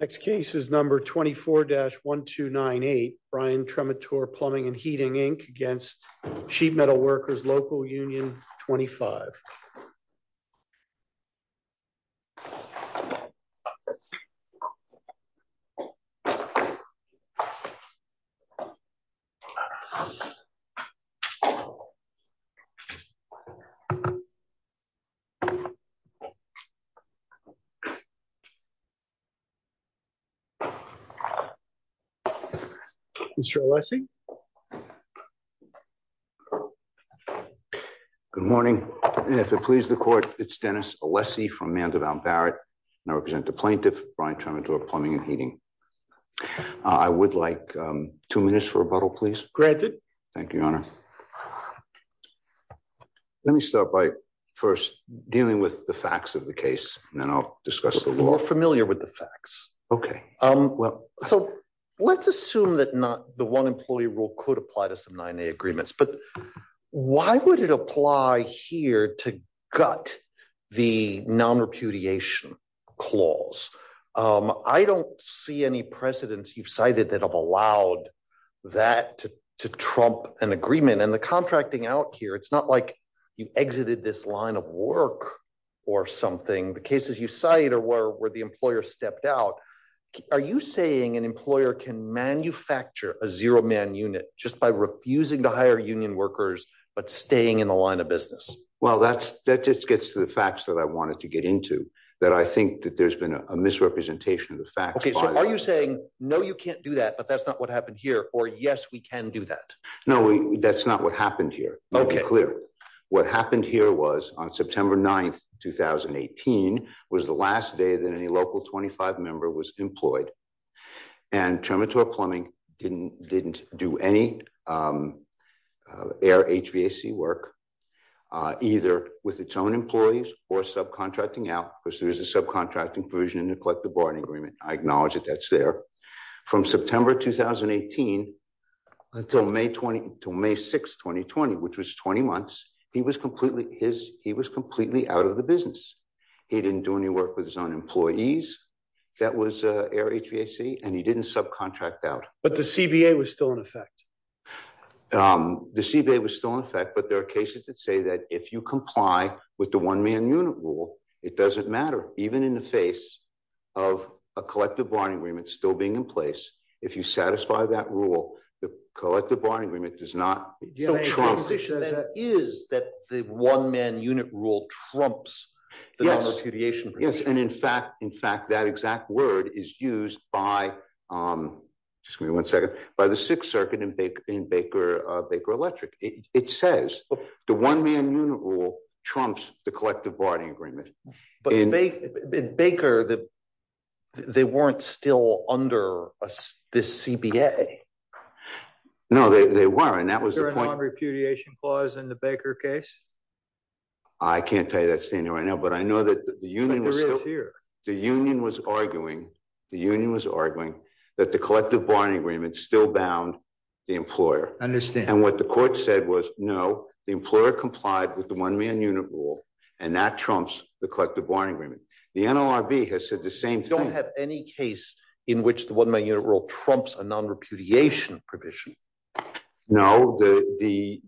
Next case is number 24-1298 Brian Trematore Plumbing and Heating Inc. against Sheet Metal Workers Local Union 25. Mr. Alessi. Good morning. If it pleases the court, it's Dennis Alessi from Mandelbaum Barrett, and I represent the plaintiff, Brian Trematore Plumbing and Heating. I would like two minutes for rebuttal, please. Thank you, Your Honor. Let me start by first dealing with the facts of the case, and then I'll discuss the law. We're familiar with the facts. Okay. Um, well, so let's assume that not the one employee rule could apply to some 9A agreements, but why would it apply here to gut the nonrepudiation clause? I don't see any precedents you've cited that have allowed that to trump an agreement. And the contracting out here, it's not like you exited this line of work or something. The cases you cite are where the employer stepped out. Are you saying an employer can manufacture a zero-man unit just by refusing to hire union workers but staying in the line of business? Well, that just gets to the facts that I wanted to get into, that I think that there's been a misrepresentation of the facts. Okay, so are you saying, no, you can't do that, but that's not what happened here, or yes, we can do that? No, that's not what happened here. Okay. Let me be clear. What happened here was, on September 9th, 2018, was the last day that any local 25 member was employed. And Termitor Plumbing didn't do any air HVAC work, either with its own employees or subcontracting out, because there's a subcontracting provision in the Collective Bargaining Agreement. I acknowledge that that's there. From September 2018 until May 6, 2020, which was 20 months, he was completely out of the business. He didn't do any work with his own employees. That was air HVAC, and he didn't subcontract out. But the CBA was still in effect. The CBA was still in effect, but there are cases that say that if you comply with the one-man unit rule, it doesn't matter. Even in the face of a Collective Bargaining Agreement still being in place, if you satisfy that rule, the Collective Bargaining Agreement does not trump. So the proposition then is that the one-man unit rule trumps the non-refugiation provision? Yes, and in fact, that exact word is used by the Sixth Circuit in Baker Electric. It says the one-man unit rule trumps the Collective Bargaining Agreement. But in Baker, they weren't still under this CBA. No, they weren't. Was there a non-refugiation clause in the Baker case? I can't tell you that standing right now, but I know that the union was arguing that the Collective Bargaining Agreement still bound the employer. And what the court said was, no, the employer complied with the one-man unit rule, and that trumps the Collective Bargaining Agreement. The NLRB has said the same thing. You don't have any case in which the one-man unit rule trumps a non-refugiation provision? No, the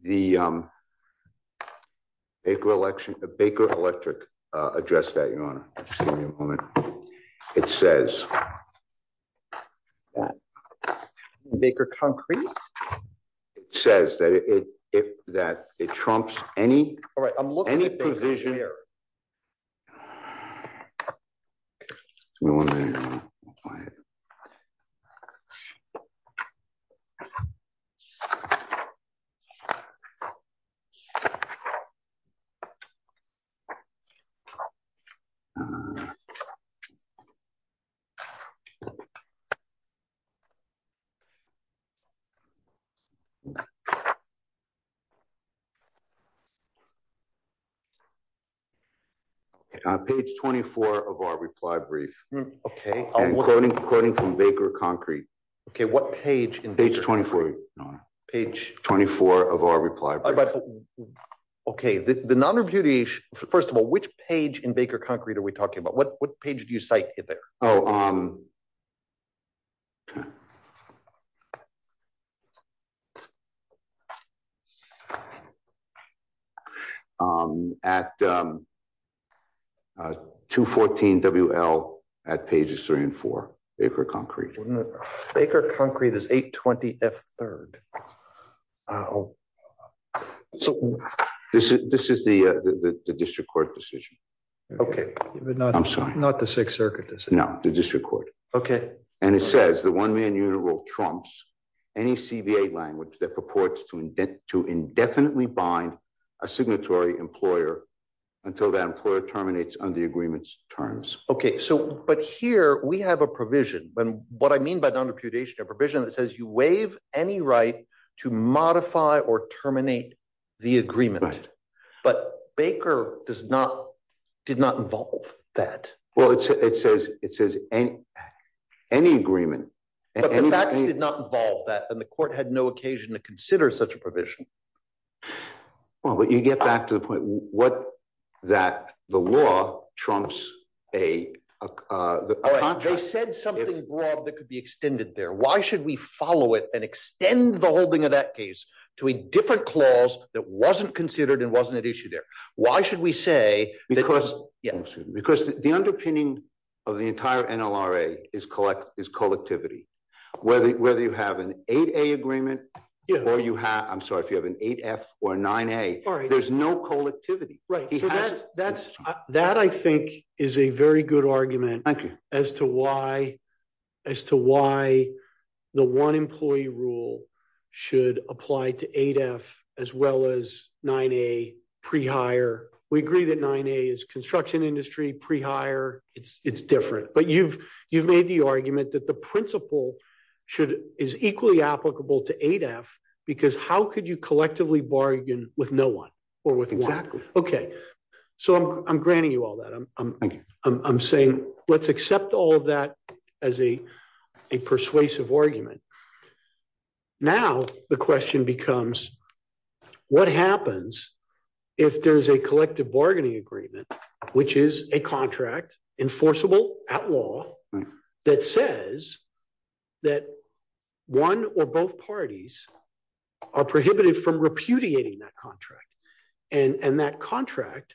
Baker Electric addressed that, Your Honor. Excuse me a moment. It says... Baker Concrete? It says that it trumps any provision... One moment, Your Honor. Page 24 of our reply brief. Quoting from Baker Concrete. Okay, what page? Page 24, Your Honor. Page... 24 of our reply brief. Okay, the non-refugiation... First of all, which page in Baker Concrete are we talking about? What page do you cite there? Oh, um... I'm sorry, Your Honor. At 214 WL, at pages 3 and 4, Baker Concrete. Baker Concrete is 820 F3rd. This is the district court decision. Okay. I'm sorry. Not the Sixth Circuit decision? No, the district court. Okay. And it says the one-man unit rule trumps any CBA language that purports to indefinitely bind a signatory employer until that employer terminates under the agreement's terms. Okay, so... But here we have a provision, and what I mean by non-refugiation, a provision that says you waive any right to modify or terminate the agreement. Right. But Baker does not... Did not involve that. Well, it says any agreement. But the facts did not involve that, and the court had no occasion to consider such a provision. Well, but you get back to the point that the law trumps a contract. They said something broad that could be extended there. Why should we follow it and extend the holding of that case to a different clause that wasn't considered and wasn't at issue there? Why should we say that... Because the underpinning of the entire NLRA is collectivity. Whether you have an 8A agreement or you have... I'm sorry, if you have an 8F or a 9A, there's no collectivity. That, I think, is a very good argument as to why the one-employee rule should apply to 8F as well as 9A pre-hire. We agree that 9A is construction industry, pre-hire. It's different. But you've made the argument that the principle should... Is equally applicable to 8F because how could you collectively bargain with no one or with one? Okay. So I'm granting you all that. Thank you. I'm saying let's accept all of that as a persuasive argument. Now, the question becomes what happens if there's a collective bargaining agreement, which is a contract, enforceable at law, that says that one or both parties are prohibited from repudiating that contract. And that contract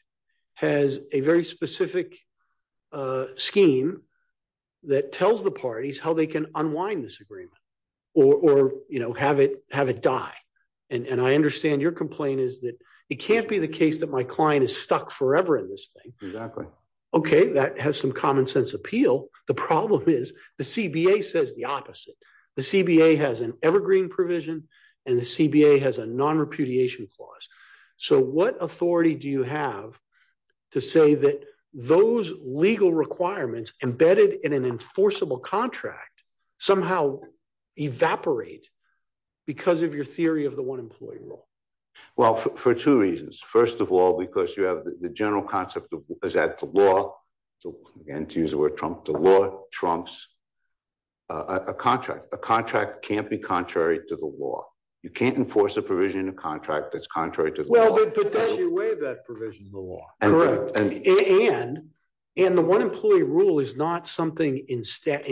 has a very specific scheme that tells the parties how they can unwind this agreement or have it die. And I understand your complaint is that it can't be the case that my client is stuck forever in this thing. Exactly. Okay, that has some common sense appeal. The problem is the CBA says the opposite. The CBA has an evergreen provision and the CBA has a non-repudiation clause. So what authority do you have to say that those legal requirements embedded in an enforceable contract somehow evaporate because of your theory of the one employee rule? Well, for two reasons. First of all, because you have the general concept is that the law... Again, to use the word Trump, the law trumps a contract. A contract can't be contrary to the law. You can't enforce a provision in a contract that's contrary to the law. But then you waive that provision in the law. And the one employee rule is not something in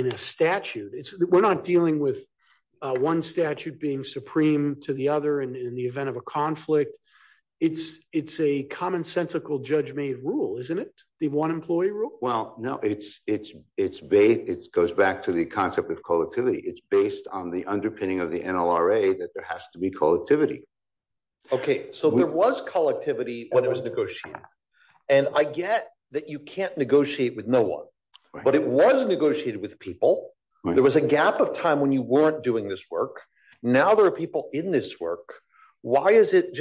a statute. We're not dealing with one statute being supreme to the other in the event of a conflict. It's a commonsensical judge-made rule, isn't it? The one employee rule? Well, no. It goes back to the concept of collectivity. It's based on the underpinning of the NLRA that there has to be collectivity. Okay. So there was collectivity when it was negotiated. And I get that you can't negotiate with no one. But it was negotiated with people. There was a gap of time when you weren't doing this work. Now there are people in this work. Why is this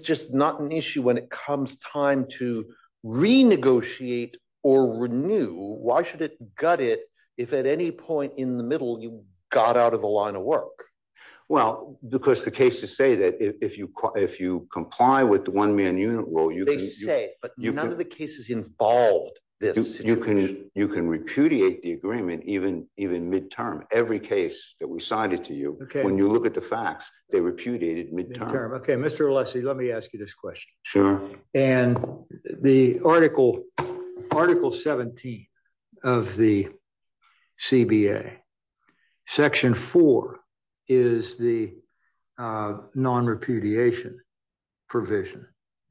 just not an issue when it comes time to renegotiate or renew? Why should it gut it if at any point in the middle you got out of the line of work? Well, because the cases say that if you comply with the one-man unit rule, you can... They say it, but none of the cases involved this situation. You can repudiate the agreement even midterm. Every case that was cited to you, when you look at the facts, they repudiated midterm. Okay, Mr. Alessi, let me ask you this question. Sure. And the Article 17 of the CBA, Section 4, is the non-repudiation provision.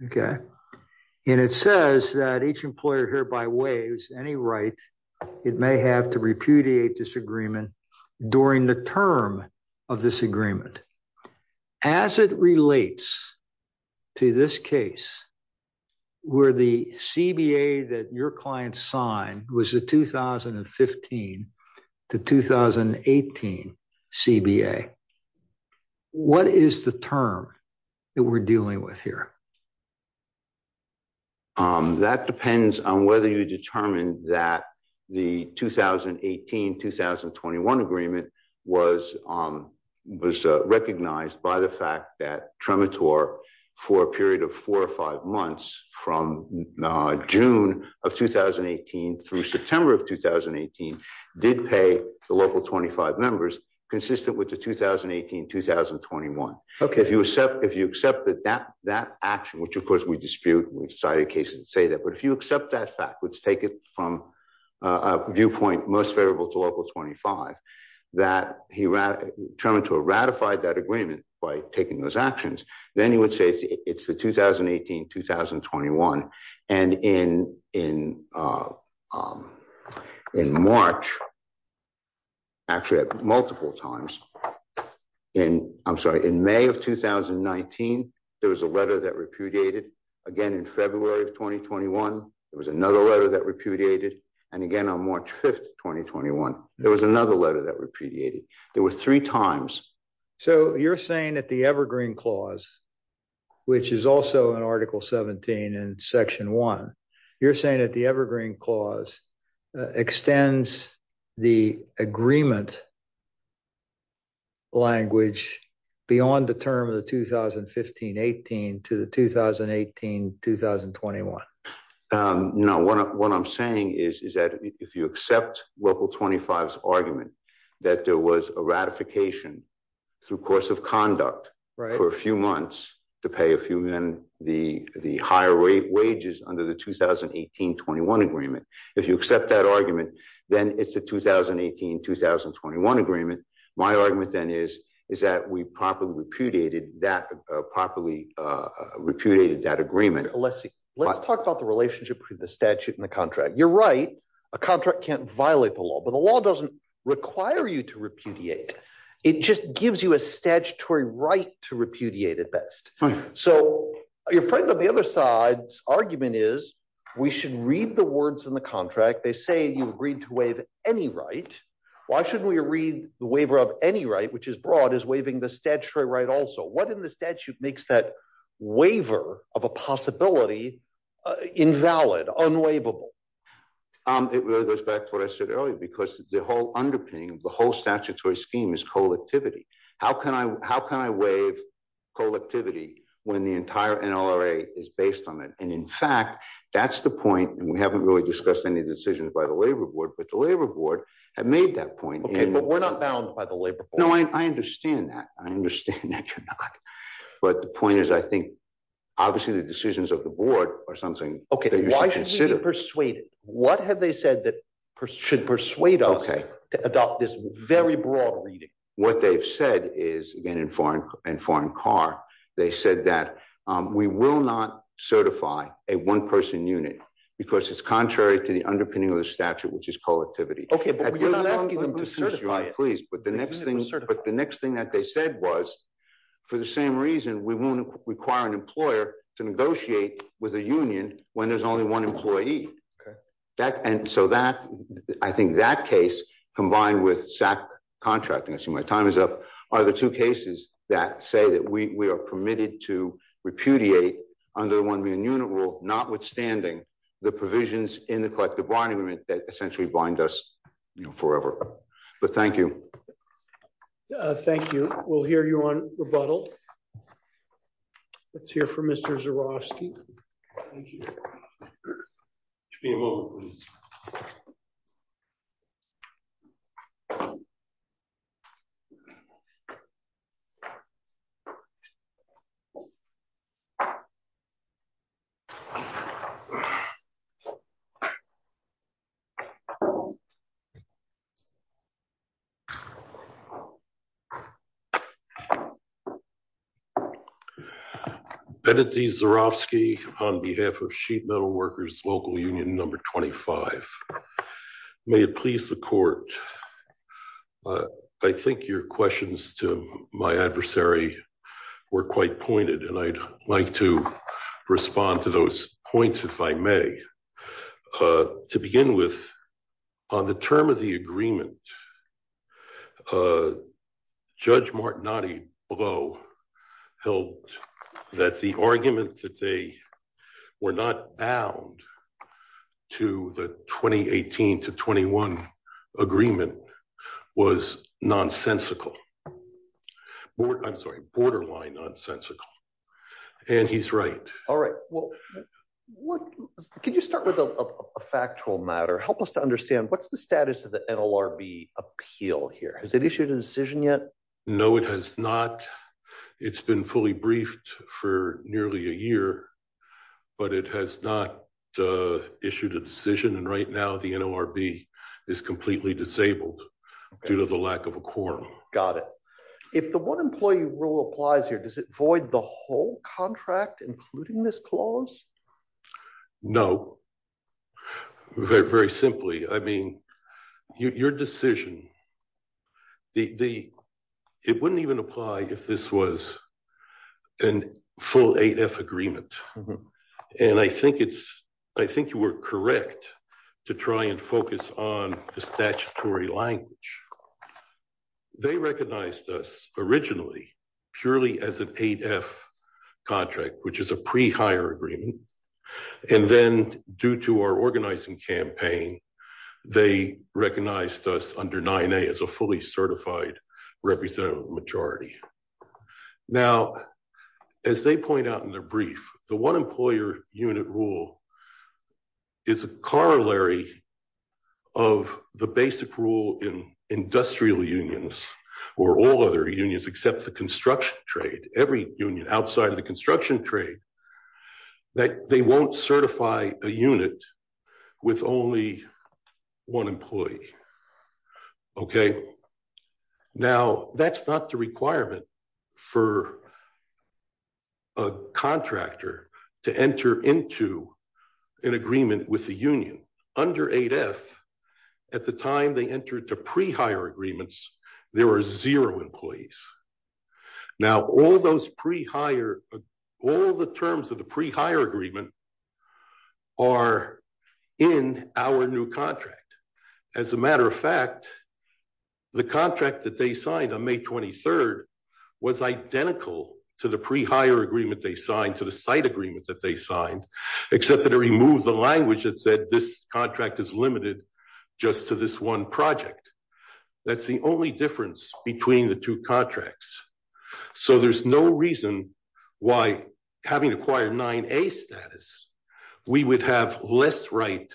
Okay. And it says that each employer hereby waives any right it may have to repudiate this agreement during the term of this agreement. As it relates to this case where the CBA that your client signed was the 2015 to 2018 CBA, what is the term that we're dealing with here? That depends on whether you determine that the 2018-2021 agreement was recognized by the fact that Tremetor, for a period of four or five months, from June of 2018 through September of 2018, did pay the local 25 members consistent with the 2018-2021. Okay. And if you accept that action, which of course we dispute, we cited cases that say that, but if you accept that fact, let's take it from a viewpoint most favorable to local 25, that Tremetor ratified that agreement by taking those actions, then you would say it's the 2018-2021. And in March, actually at multiple times, I'm sorry, in May of 2019, there was a letter that repudiated. Again, in February of 2021, there was another letter that repudiated. And again, on March 5th, 2021, there was another letter that repudiated. There were three times. So you're saying that the Evergreen Clause, which is also in Article 17 and Section 1, you're saying that the Evergreen Clause extends the agreement language beyond the term of the 2015-18 to the 2018-2021? No, what I'm saying is that if you accept local 25's argument that there was a ratification through course of conduct for a few months to pay a few men the higher rate wages under the 2018-21 agreement, if you accept that argument, then it's a 2018-2021 agreement. My argument then is that we properly repudiated that agreement. Let's talk about the relationship between the statute and the contract. You're right, a contract can't violate the law, but the law doesn't require you to repudiate. It just gives you a statutory right to repudiate at best. So your friend on the other side's argument is we should read the words in the contract. They say you agreed to waive any right. Why shouldn't we read the waiver of any right, which is broad, as waiving the statutory right also? What in the statute makes that waiver of a possibility invalid, unwaivable? It really goes back to what I said earlier, because the whole underpinning of the whole statutory scheme is collectivity. How can I waive collectivity when the entire NLRA is based on it? And in fact, that's the point, and we haven't really discussed any decisions by the labor board, but the labor board have made that point. Okay, but we're not bound by the labor board. No, I understand that. I understand that you're not. But the point is, I think, obviously the decisions of the board are something that you should consider. What have they said that should persuade us to adopt this very broad reading? What they've said is, again, in Foreign Car, they said that we will not certify a one-person unit because it's contrary to the underpinning of the statute, which is collectivity. Okay, but we're not asking them to certify it. Please, but the next thing that they said was, for the same reason, we won't require an employer to negotiate with a union when there's only one employee. And so I think that case, combined with SAC contracting, I assume my time is up, are the two cases that say that we are permitted to repudiate under the one-man unit rule, notwithstanding the provisions in the collective bond agreement that essentially bind us forever. But thank you. Thank you. We'll hear you on rebuttal. Let's hear from Mr. Zurofsky. Give me a moment, please. Senator Zurofsky, on behalf of Sheet Metal Workers Local Union No. 25. May it please the court. I think your questions to my adversary were quite pointed, and I'd like to respond to those points, if I may. To begin with, on the term of the agreement, Judge Martinotti, although, held that the argument that they were not bound to the 2018 to 21 agreement was nonsensical. I'm sorry, borderline nonsensical. And he's right. All right. Can you start with a factual matter, help us to understand what's the status of the NLRB appeal here? Has it issued a decision yet? No, it has not. It's been fully briefed for nearly a year, but it has not issued a decision and right now the NLRB is completely disabled due to the lack of a quorum. Got it. If the one employee rule applies here, does it void the whole contract, including this clause? No. Very, very simply. I mean, your decision, it wouldn't even apply if this was a full 8F agreement. And I think you were correct to try and focus on the statutory language. They recognized us originally purely as an 8F contract, which is a pre-hire agreement. And then due to our organizing campaign, they recognized us under 9A as a fully certified representative majority. Now, as they point out in their brief, the one employer unit rule is a corollary of the basic rule in industrial unions or all other unions except the construction trade. Every union outside of the construction trade, that they won't certify a unit with only one employee. Okay. Now, that's not the requirement for a contractor to enter into an agreement with the union. Under 8F, at the time they entered to pre-hire agreements, there were zero employees. Now, all those pre-hire, all the terms of the pre-hire agreement are in our new contract. As a matter of fact, the contract that they signed on May 23rd was identical to the pre-hire agreement they signed, to the site agreement that they signed, except that it removed the language that said this contract is limited just to this one project. That's the only difference between the two contracts. So there's no reason why having acquired 9A status, we would have less right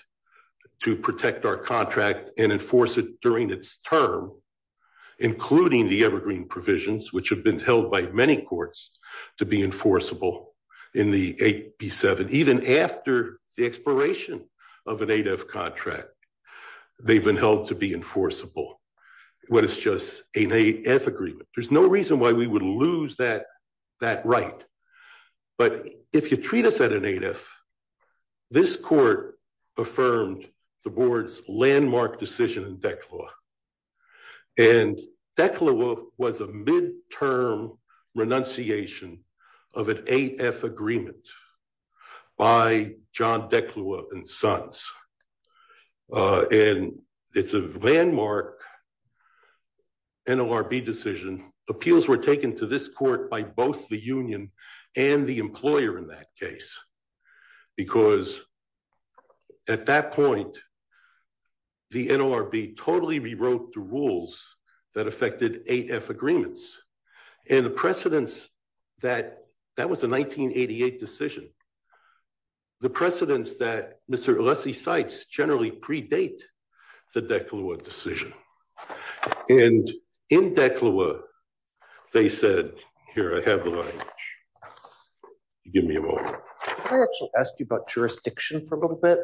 to protect our contract and enforce it during its term, including the evergreen provisions, which have been held by many courts to be enforceable in the 8B7. And even after the expiration of an 8F contract, they've been held to be enforceable when it's just an 8F agreement. There's no reason why we would lose that right. But if you treat us at an 8F, this court affirmed the board's landmark decision in DECLAW. And DECLAW was a midterm renunciation of an 8F agreement by John DECLAW and Sons. And it's a landmark NLRB decision. Appeals were taken to this court by both the union and the employer in that case, because at that point, the NLRB totally rewrote the rules that affected 8F agreements. And the precedence that, that was a 1988 decision, the precedence that Mr. Elessie cites generally predate the DECLAW decision. And in DECLAW, they said, here I have the language. Give me a moment. Can I actually ask you about jurisdiction for a little bit?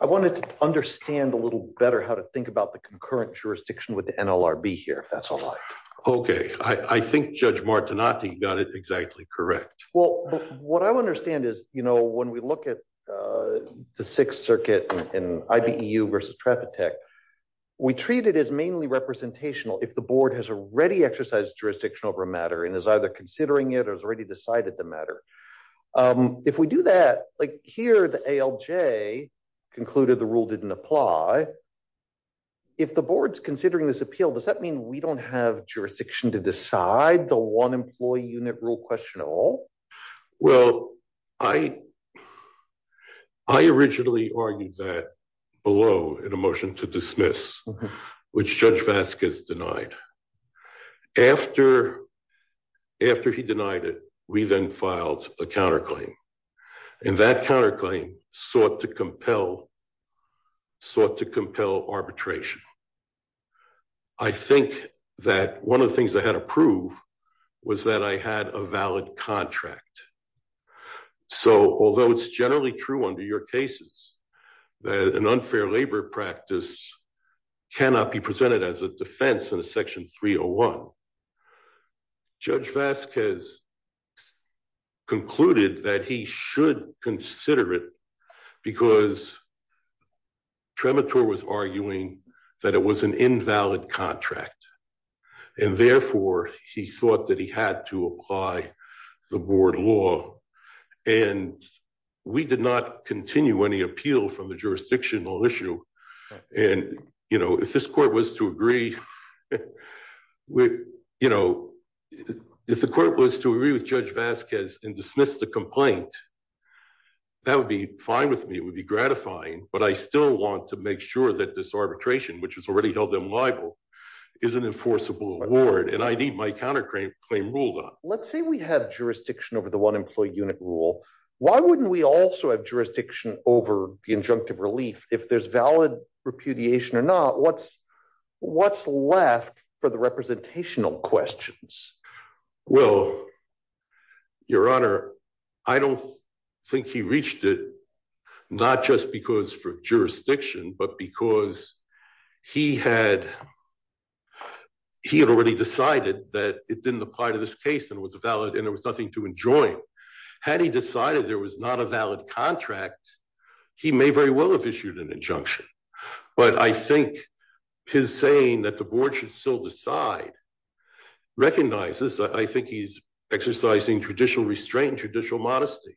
I wanted to understand a little better how to think about the concurrent jurisdiction with the NLRB here, if that's all right. Okay. I think Judge Martinati got it exactly correct. Well, what I understand is, you know, when we look at the Sixth Circuit and IBEU versus Trapatek, we treat it as mainly representational if the board has already exercised jurisdiction over a matter and is either considering it or has already decided the matter. If we do that, like here, the ALJ concluded the rule didn't apply. If the board's considering this appeal, does that mean we don't have jurisdiction to decide the one employee unit rule question at all? Well, I, I originally argued that below in a motion to dismiss, which Judge Vasquez denied. After, after he denied it, we then filed a counterclaim. And that counterclaim sought to compel, sought to compel arbitration. I think that one of the things I had to prove was that I had a valid contract. So, although it's generally true under your cases that an unfair labor practice cannot be presented as a defense in a section 301, Judge Vasquez concluded that he should consider it because Tremitor was arguing that it was an invalid contract. And therefore, he thought that he had to apply the board law and we did not continue any appeal from the jurisdictional issue. And, you know, if this court was to agree with, you know, if the court was to agree with Judge Vasquez and dismiss the complaint, that would be fine with me. It would be gratifying, but I still want to make sure that this arbitration, which has already held them liable, is an enforceable award. And I need my counterclaim ruled on. Let's say we have jurisdiction over the one employee unit rule. Why wouldn't we also have jurisdiction over the injunctive relief if there's valid repudiation or not? What's, what's left for the representational questions? Well, Your Honor, I don't think he reached it, not just because for jurisdiction, but because he had, he had already decided that it didn't apply to this case and was valid and there was nothing to enjoin. Had he decided there was not a valid contract, he may very well have issued an injunction. But I think his saying that the board should still decide recognizes, I think he's exercising traditional restraint, traditional modesty.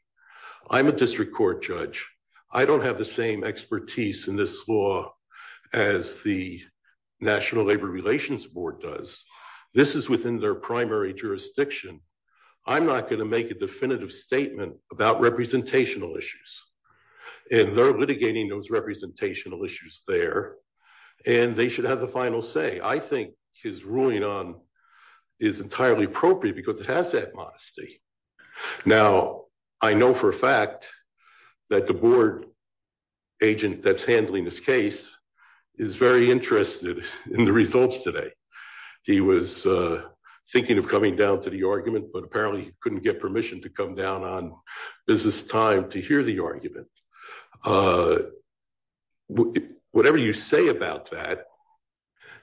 I'm a district court judge. I don't have the same expertise in this law as the National Labor Relations Board does. This is within their primary jurisdiction. I'm not going to make a definitive statement about representational issues, and they're litigating those representational issues there, and they should have the final say. I think his ruling on is entirely appropriate because it has that modesty. Now, I know for a fact that the board agent that's handling this case is very interested in the results today. He was thinking of coming down to the argument, but apparently couldn't get permission to come down on business time to hear the argument. Whatever you say about that,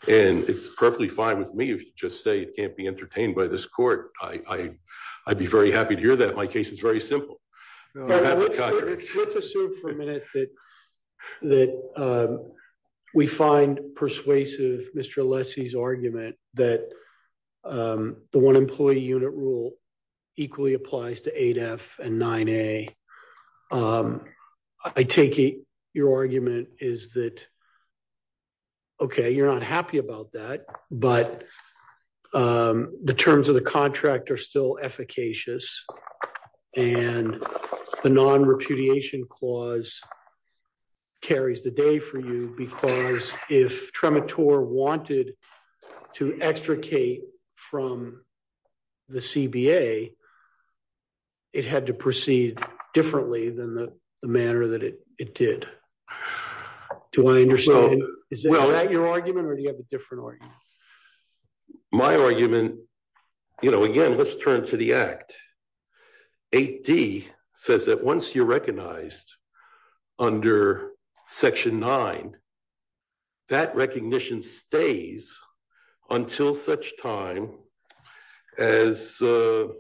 and it's perfectly fine with me if you just say it can't be entertained by this court. I'd be very happy to hear that my case is very simple. Let's assume for a minute that that we find persuasive Mr. Lessie's argument that the one employee unit rule equally applies to 8F and 9A. I take your argument is that, okay, you're not happy about that, but the terms of the contract are still efficacious, and the non-repudiation clause carries the day for you because if Tremitore wanted to extricate from the CBA, it had to proceed differently than the manner that it did. Do I understand? Is that your argument or do you have a different argument? My argument, you know, again, let's turn to the act. 8D says that once you're recognized under Section 9, that recognition stays until such time as the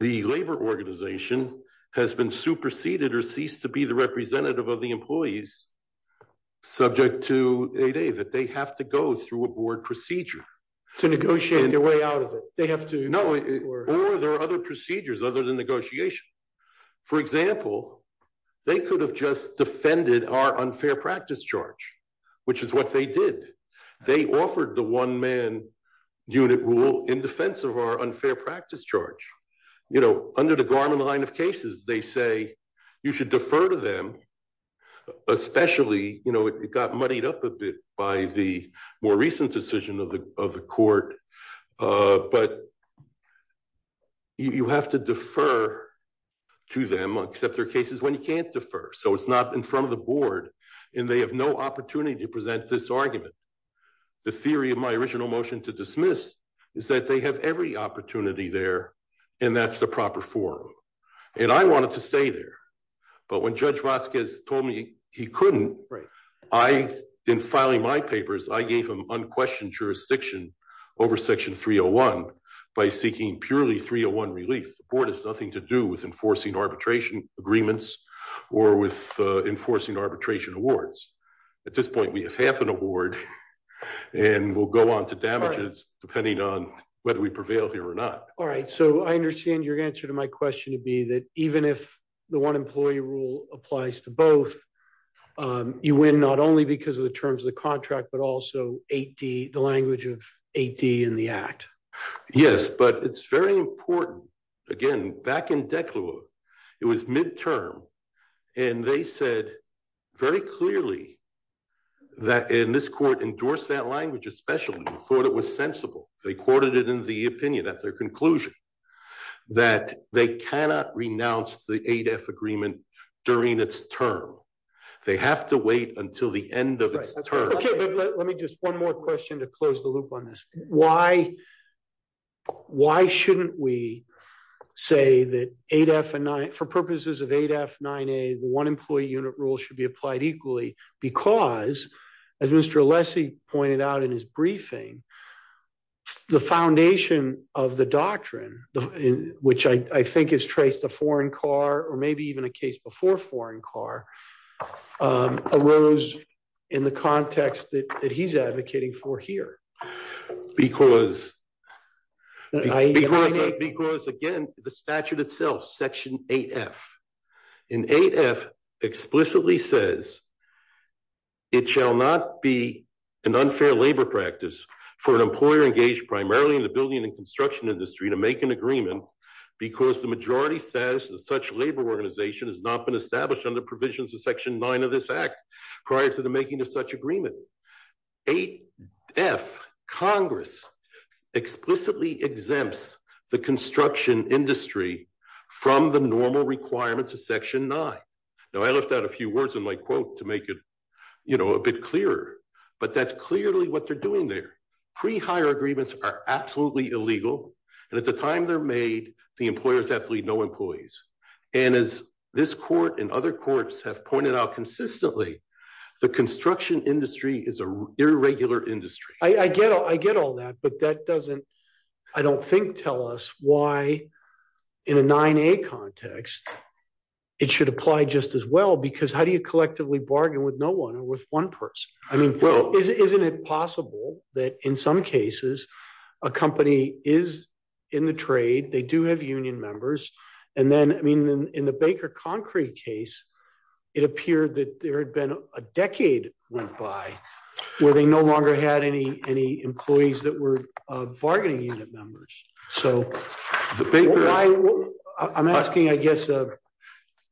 labor organization has been superseded or ceased to be the representative of the employees subject to 8A, that they have to go through a board procedure. To negotiate their way out of it, they have to... No, or there are other procedures other than negotiation. For example, they could have just defended our unfair practice charge, which is what they did. They offered the one man unit rule in defense of our unfair practice charge. You know, under the Garman line of cases, they say you should defer to them, especially, you know, it got muddied up a bit by the more recent decision of the court, but you have to defer to them, except there are cases when you can't defer, so it's not in front of the board, and they have no opportunity to present this argument. The theory of my original motion to dismiss is that they have every opportunity there, and that's the proper form, and I wanted to stay there, but when Judge Vasquez told me he couldn't, in filing my papers, I gave him unquestioned jurisdiction over Section 301 by seeking purely 301 relief. The board has nothing to do with enforcing arbitration agreements or with enforcing arbitration awards. At this point, we have half an award, and we'll go on to damages, depending on whether we prevail here or not. All right, so I understand your answer to my question would be that even if the one employee rule applies to both, you win not only because of the terms of the contract, but also the language of 8D in the Act. Yes, but it's very important. Again, back in Declaw, it was midterm, and they said very clearly that, and this court endorsed that language especially, and thought it was sensible. They quoted it in the opinion at their conclusion that they cannot renounce the 8F agreement during its term. They have to wait until the end of its term. Let me just one more question to close the loop on this. Why shouldn't we say that for purposes of 8F, 9A, the one employee unit rule should be applied equally because, as Mr. Alessi pointed out in his briefing, the foundation of the doctrine, which I think has traced a foreign car or maybe even a case before foreign car, arose in the context that he's advocating for here. Because, again, the statute itself, Section 8F. And 8F explicitly says it shall not be an unfair labor practice for an employer engaged primarily in the building and construction industry to make an agreement because the majority status of such labor organization has not been established under provisions of Section 9 of this Act prior to the making of such agreement. 8F Congress explicitly exempts the construction industry from the normal requirements of Section 9. Now, I left out a few words in my quote to make it a bit clearer, but that's clearly what they're doing there. Pre-hire agreements are absolutely illegal, and at the time they're made, the employers have to leave no employees. And as this court and other courts have pointed out consistently, the construction industry is an irregular industry. I get all that, but that doesn't, I don't think, tell us why, in a 9A context, it should apply just as well because how do you collectively bargain with no one or with one person? I mean, isn't it possible that in some cases a company is in the trade, they do have union members, and then, I mean, in the Baker Concrete case, it appeared that there had been a decade went by where they no longer had any employees that were bargaining unit members. I'm asking, I guess, a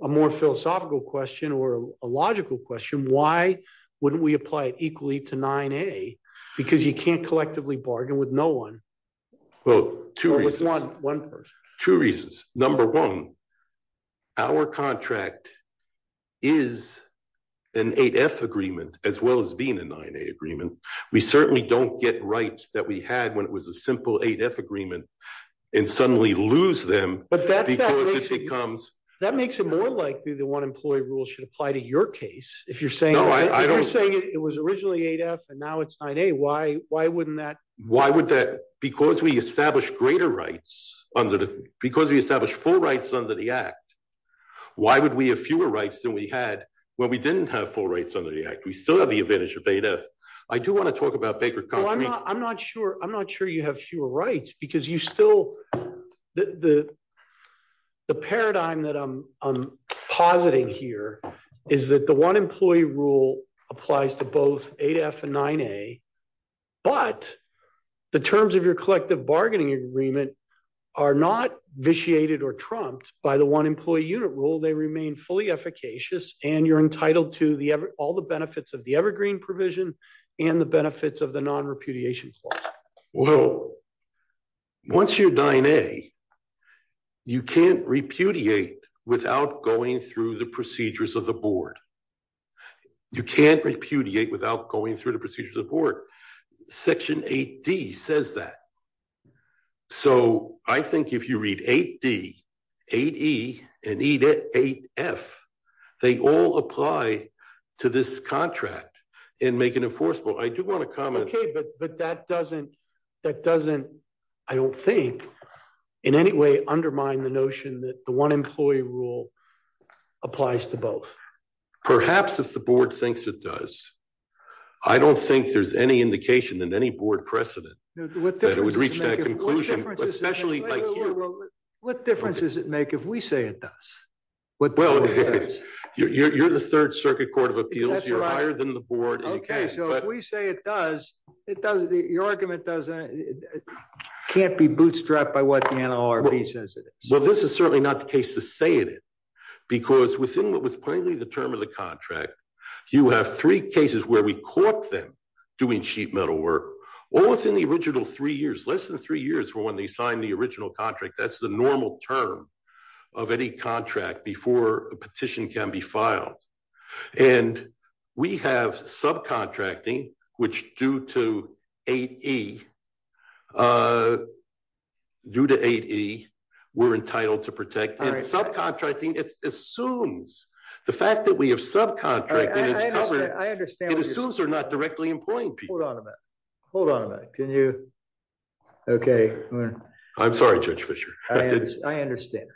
more philosophical question or a logical question. Why wouldn't we apply it equally to 9A? Because you can't collectively bargain with no one or with one person. Two reasons. Number one, our contract is an 8F agreement as well as being a 9A agreement. We certainly don't get rights that we had when it was a simple 8F agreement and suddenly lose them. But that makes it more likely that one employee rule should apply to your case. If you're saying it was originally 8F and now it's 9A, why wouldn't that? Because we establish greater rights, because we establish full rights under the Act, why would we have fewer rights than we had when we didn't have full rights under the Act? We still have the advantage of 8F. I do want to talk about Baker Concrete. I'm not sure you have fewer rights because you still, the paradigm that I'm positing here is that the one employee rule applies to both 8F and 9A, but the terms of your collective bargaining agreement are not vitiated or trumped by the one employee unit rule. Well, once you're 9A, you can't repudiate without going through the procedures of the board. You can't repudiate without going through the procedures of the board. Section 8D says that. So I think if you read 8D, 8E, and 8F, they all apply to this contract and make it enforceable. I do want to comment. Okay, but that doesn't, I don't think, in any way undermine the notion that the one employee rule applies to both. Perhaps if the board thinks it does, I don't think there's any indication in any board precedent that it would reach that conclusion, especially like you. What difference does it make if we say it does? Well, you're the Third Circuit Court of Appeals, you're higher than the board. Okay, so if we say it does, your argument can't be bootstrapped by what the NLRB says it is. Well, this is certainly not the case to say it is, because within what was plainly the term of the contract, you have three cases where we caught them doing sheet metal work, all within the original three years, less than three years from when they signed the original contract. That's the normal term of any contract before a petition can be filed. And we have subcontracting, which due to 8E, due to 8E, we're entitled to protect. Subcontracting assumes, the fact that we have subcontracting is covered, it assumes they're not directly employing people. Hold on a minute. Hold on a minute. Can you? Okay. I'm sorry, Judge Fischer. I understand.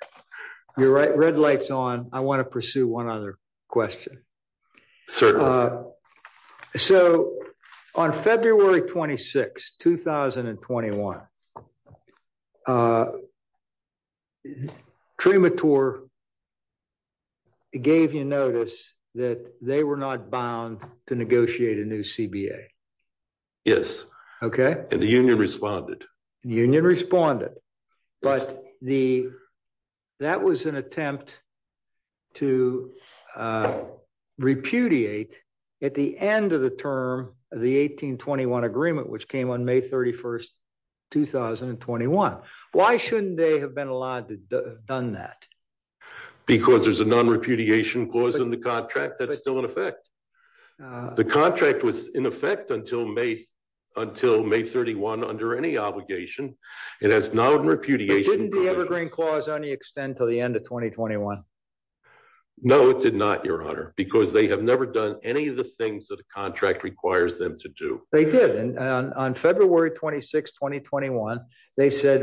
You're right. Red light's on. I want to pursue one other question. So, on February 26, 2021, Trimitor gave you notice that they were not bound to negotiate a new CBA. Yes. Okay. And the union responded. The union responded, but that was an attempt to repudiate at the end of the term of the 1821 agreement, which came on May 31st, 2021. Why shouldn't they have been allowed to have done that? Because there's a non-repudiation clause in the contract that's still in effect. The contract was in effect until May 31 under any obligation. It has non-repudiation. Didn't the Evergreen clause only extend to the end of 2021? No, it did not, Your Honor, because they have never done any of the things that a contract requires them to do. They did, and on February 26, 2021, they said,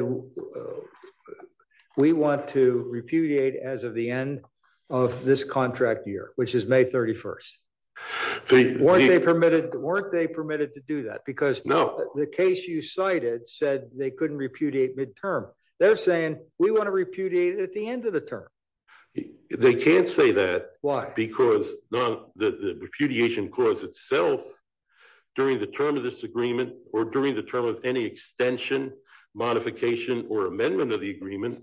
we want to repudiate as of the end of this contract year, which is May 31st. Weren't they permitted to do that? Because the case you cited said they couldn't repudiate midterm. They're saying, we want to repudiate at the end of the term. They can't say that. Why? Because the repudiation clause itself, during the term of this agreement, or during the term of any extension, modification, or amendment of the agreement,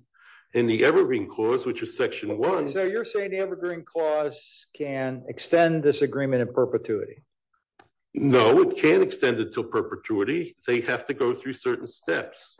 in the Evergreen clause, which is Section 1. So you're saying the Evergreen clause can extend this agreement in perpetuity? No, it can't extend it to perpetuity. They have to go through certain steps.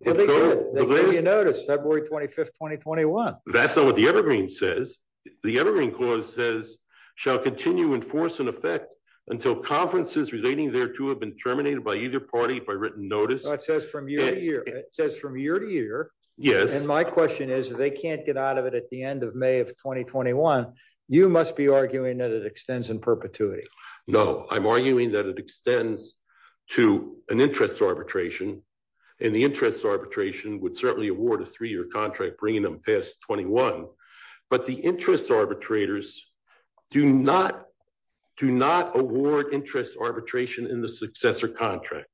Well, they did. They did, you notice, February 25th, 2021. That's not what the Evergreen says. The Evergreen clause says, shall continue in force and effect until conferences relating thereto have been terminated by either party by written notice. It says from year to year. It says from year to year. Yes. And my question is, if they can't get out of it at the end of May of 2021, you must be arguing that it extends in perpetuity. No, I'm arguing that it extends to an interest arbitration, and the interest arbitration would certainly award a three-year contract bringing them past 21. But the interest arbitrators do not award interest arbitration in the successor contract.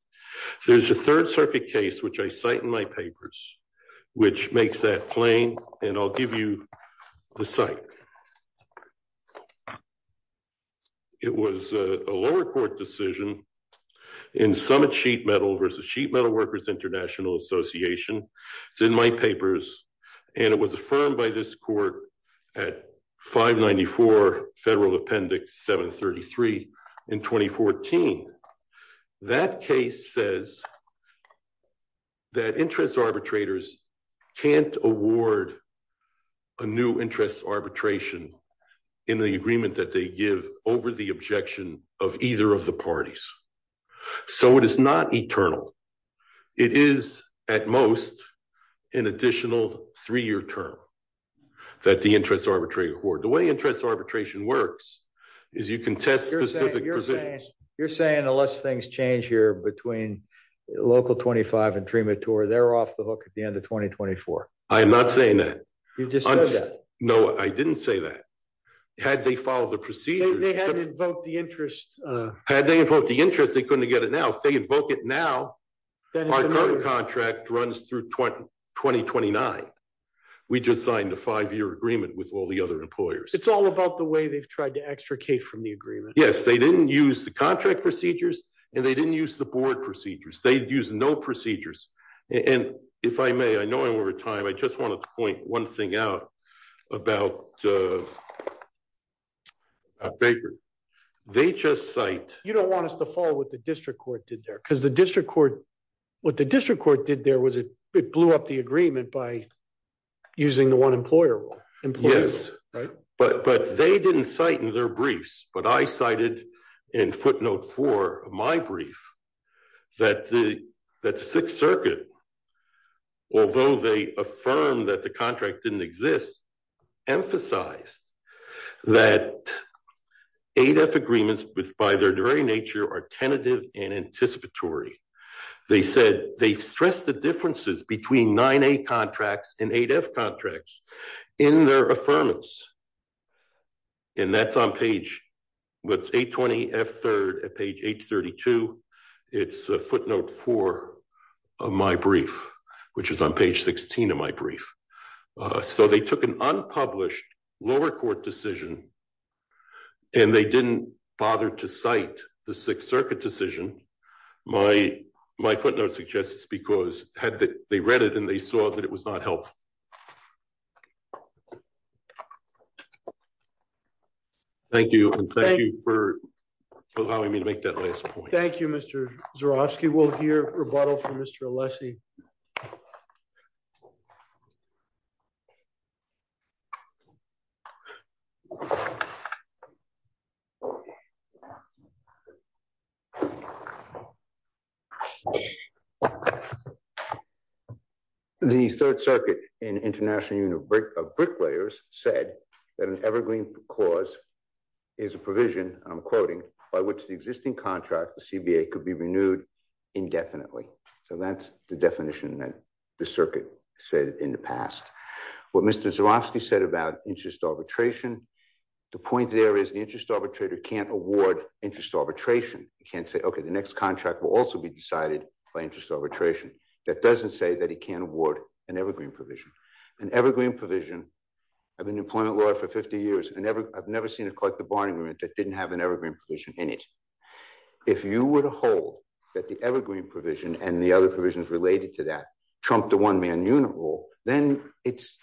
There's a Third Circuit case, which I cite in my papers, which makes that plain, and I'll give you the cite. It was a lower court decision in Summit Sheet Metal versus Sheet Metal Workers International Association. It's in my papers, and it was affirmed by this court at 594 Federal Appendix 733 in 2014. That case says that interest arbitrators can't award a new interest arbitration in the agreement that they give over the objection of either of the parties. So it is not eternal. It is, at most, an additional three-year term that the interest arbitrator award. The way interest arbitration works is you can test specific provisions. You're saying the less things change here between Local 25 and Trematur, they're off the hook at the end of 2024. I'm not saying that. You just said that. No, I didn't say that. Had they followed the procedures. They had to invoke the interest. Had they invoked the interest, they couldn't get it now. If they invoke it now, our current contract runs through 2029. We just signed a five-year agreement with all the other employers. It's all about the way they've tried to extricate from the agreement. Yes, they didn't use the contract procedures, and they didn't use the board procedures. They used no procedures. And if I may, I know I'm over time. I just want to point one thing out about Baker. You don't want us to follow what the district court did there. Because what the district court did there was it blew up the agreement by using the one-employer rule. Yes, but they didn't cite in their briefs. But I cited in footnote four of my brief that the Sixth Circuit, although they affirmed that the contract didn't exist, emphasized that 8F agreements, by their very nature, are tentative and anticipatory. They said they stressed the differences between 9A contracts and 8F contracts in their affirmance. And that's on page 820F3 at page 832. It's footnote four of my brief, which is on page 16 of my brief. So they took an unpublished lower court decision, and they didn't bother to cite the Sixth Circuit decision. My footnote suggests it's because they read it, and they saw that it was not helpful. Thank you, and thank you for allowing me to make that last point. Thank you, Mr. Zurofsky. We'll hear rebuttal from Mr. Alessi. The Third Circuit in International Union of Bricklayers said that an evergreen cause is a provision, and I'm quoting, by which the existing contract, the CBA, could be renewed indefinitely. So that's the definition that the circuit said in the past. What Mr. Zurofsky said about interest arbitration, the point there is the interest arbitrator can't award interest arbitration. He can't say, okay, the next contract will also be decided by interest arbitration. That doesn't say that he can't award an evergreen provision. An evergreen provision, I've been an employment lawyer for 50 years, and I've never seen a collective bargaining agreement that didn't have an evergreen provision in it. If you were to hold that the evergreen provision and the other provisions related to that trump the one-man unit rule, then it's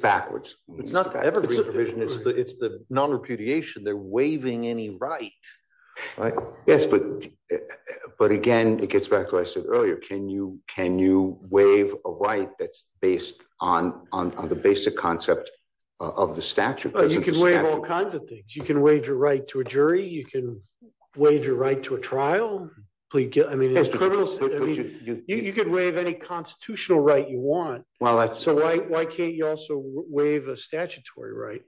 backwards. It's not the evergreen provision. It's the nonrepudiation. They're waiving any right. Yes, but again, it gets back to what I said earlier. Can you waive a right that's based on the basic concept of the statute? You can waive all kinds of things. You can waive your right to a jury. You can waive your right to a trial. You can waive any constitutional right you want. So why can't you also waive a statutory right?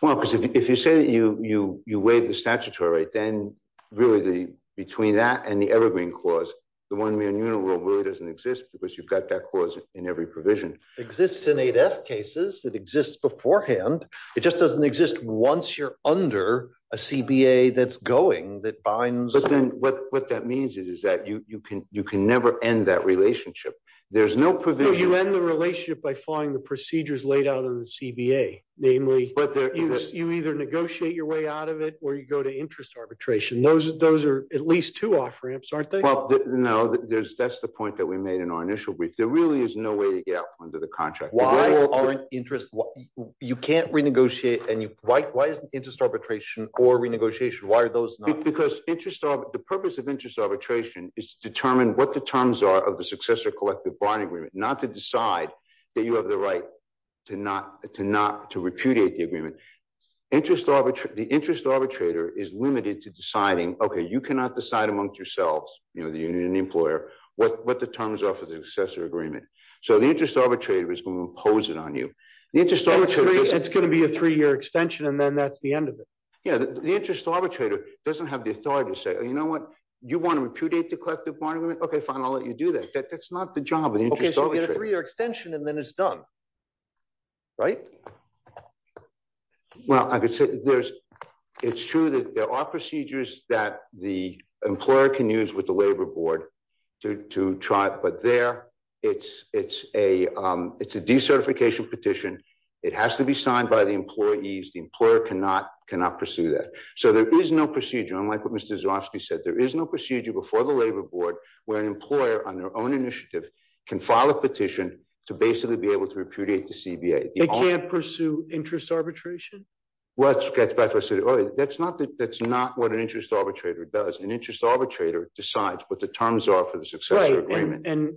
Well, because if you say that you waive the statutory right, then really between that and the evergreen clause, the one-man unit rule really doesn't exist because you've got that clause in every provision. It exists in 8F cases. It exists beforehand. It just doesn't exist once you're under a CBA that's going that binds. But then what that means is that you can never end that relationship. There's no provision. No, you end the relationship by following the procedures laid out in the CBA, namely you either negotiate your way out of it or you go to interest arbitration. Those are at least two off ramps, aren't they? Well, no, that's the point that we made in our initial brief. There really is no way to get out under the contract. Why? People aren't interested. You can't renegotiate. Why isn't interest arbitration or renegotiation? Why are those not? Because the purpose of interest arbitration is to determine what the terms are of the successor collective bond agreement, not to decide that you have the right to repudiate the agreement. The interest arbitrator is limited to deciding, okay, you cannot decide amongst yourselves, the union employer, what the terms are for the successor agreement. So the interest arbitrator is going to impose it on you. It's going to be a three-year extension, and then that's the end of it. Yeah, the interest arbitrator doesn't have the authority to say, you know what, you want to repudiate the collective bond agreement? Okay, fine, I'll let you do that. That's not the job of the interest arbitrator. Okay, so you get a three-year extension, and then it's done, right? Well, I could say it's true that there are procedures that the employer can use with the labor board to try, but there it's a decertification petition. It has to be signed by the employees. The employer cannot pursue that. So there is no procedure. And like what Mr. Zyrowski said, there is no procedure before the labor board where an employer on their own initiative can file a petition to basically be able to repudiate the CBA. They can't pursue interest arbitration? Well, that's not what an interest arbitrator does. An interest arbitrator decides what the terms are for the successor agreement. Right, and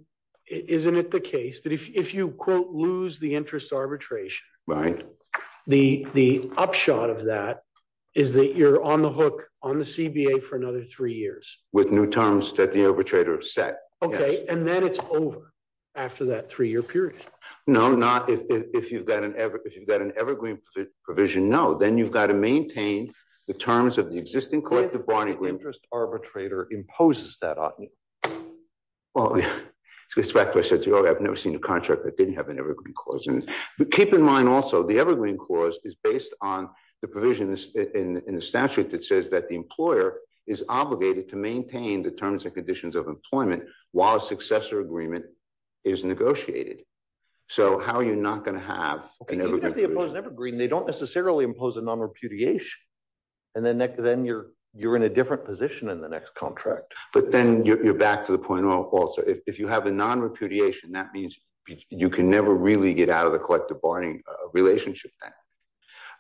isn't it the case that if you, quote, lose the interest arbitration, the upshot of that is that you're on the hook on the CBA for another three years? With new terms that the arbitrator has set, yes. Okay, and then it's over after that three-year period. No, not if you've got an evergreen provision, no. Then you've got to maintain the terms of the existing collective bond agreement. An interest arbitrator imposes that on you. Well, to go back to what I said earlier, I've never seen a contract that didn't have an evergreen clause in it. Keep in mind, also, the evergreen clause is based on the provisions in the statute that says that the employer is obligated to maintain the terms and conditions of employment while a successor agreement is negotiated. So how are you not going to have an evergreen provision? If you have the imposed evergreen, they don't necessarily impose a non-repudiation, and then you're in a different position in the next contract. But then you're back to the point also. If you have a non-repudiation, that means you can never really get out of the collective bonding relationship.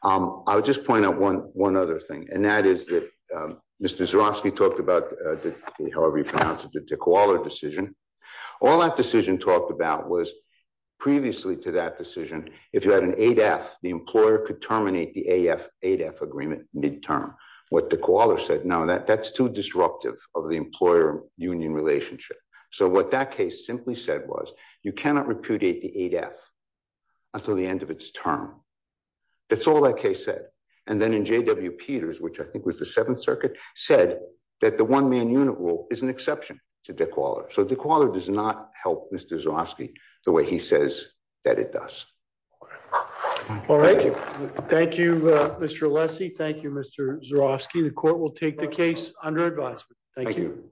I'll just point out one other thing, and that is that Mr. Zerofsky talked about, however you pronounce it, the Koala decision. All that decision talked about was, previously to that decision, if you had an AF, the employer could terminate the AF-AF agreement midterm. What the Koala said, no, that's too disruptive of the employer-union relationship. So what that case simply said was, you cannot repudiate the AF until the end of its term. That's all that case said. And then in J.W. Peters, which I think was the Seventh Circuit, said that the one-man-unit rule is an exception to the Koala. So the Koala does not help Mr. Zerofsky the way he says that it does. All right. Thank you, Mr. Alessi. Thank you, Mr. Zerofsky. The court will take the case under advisement. Thank you.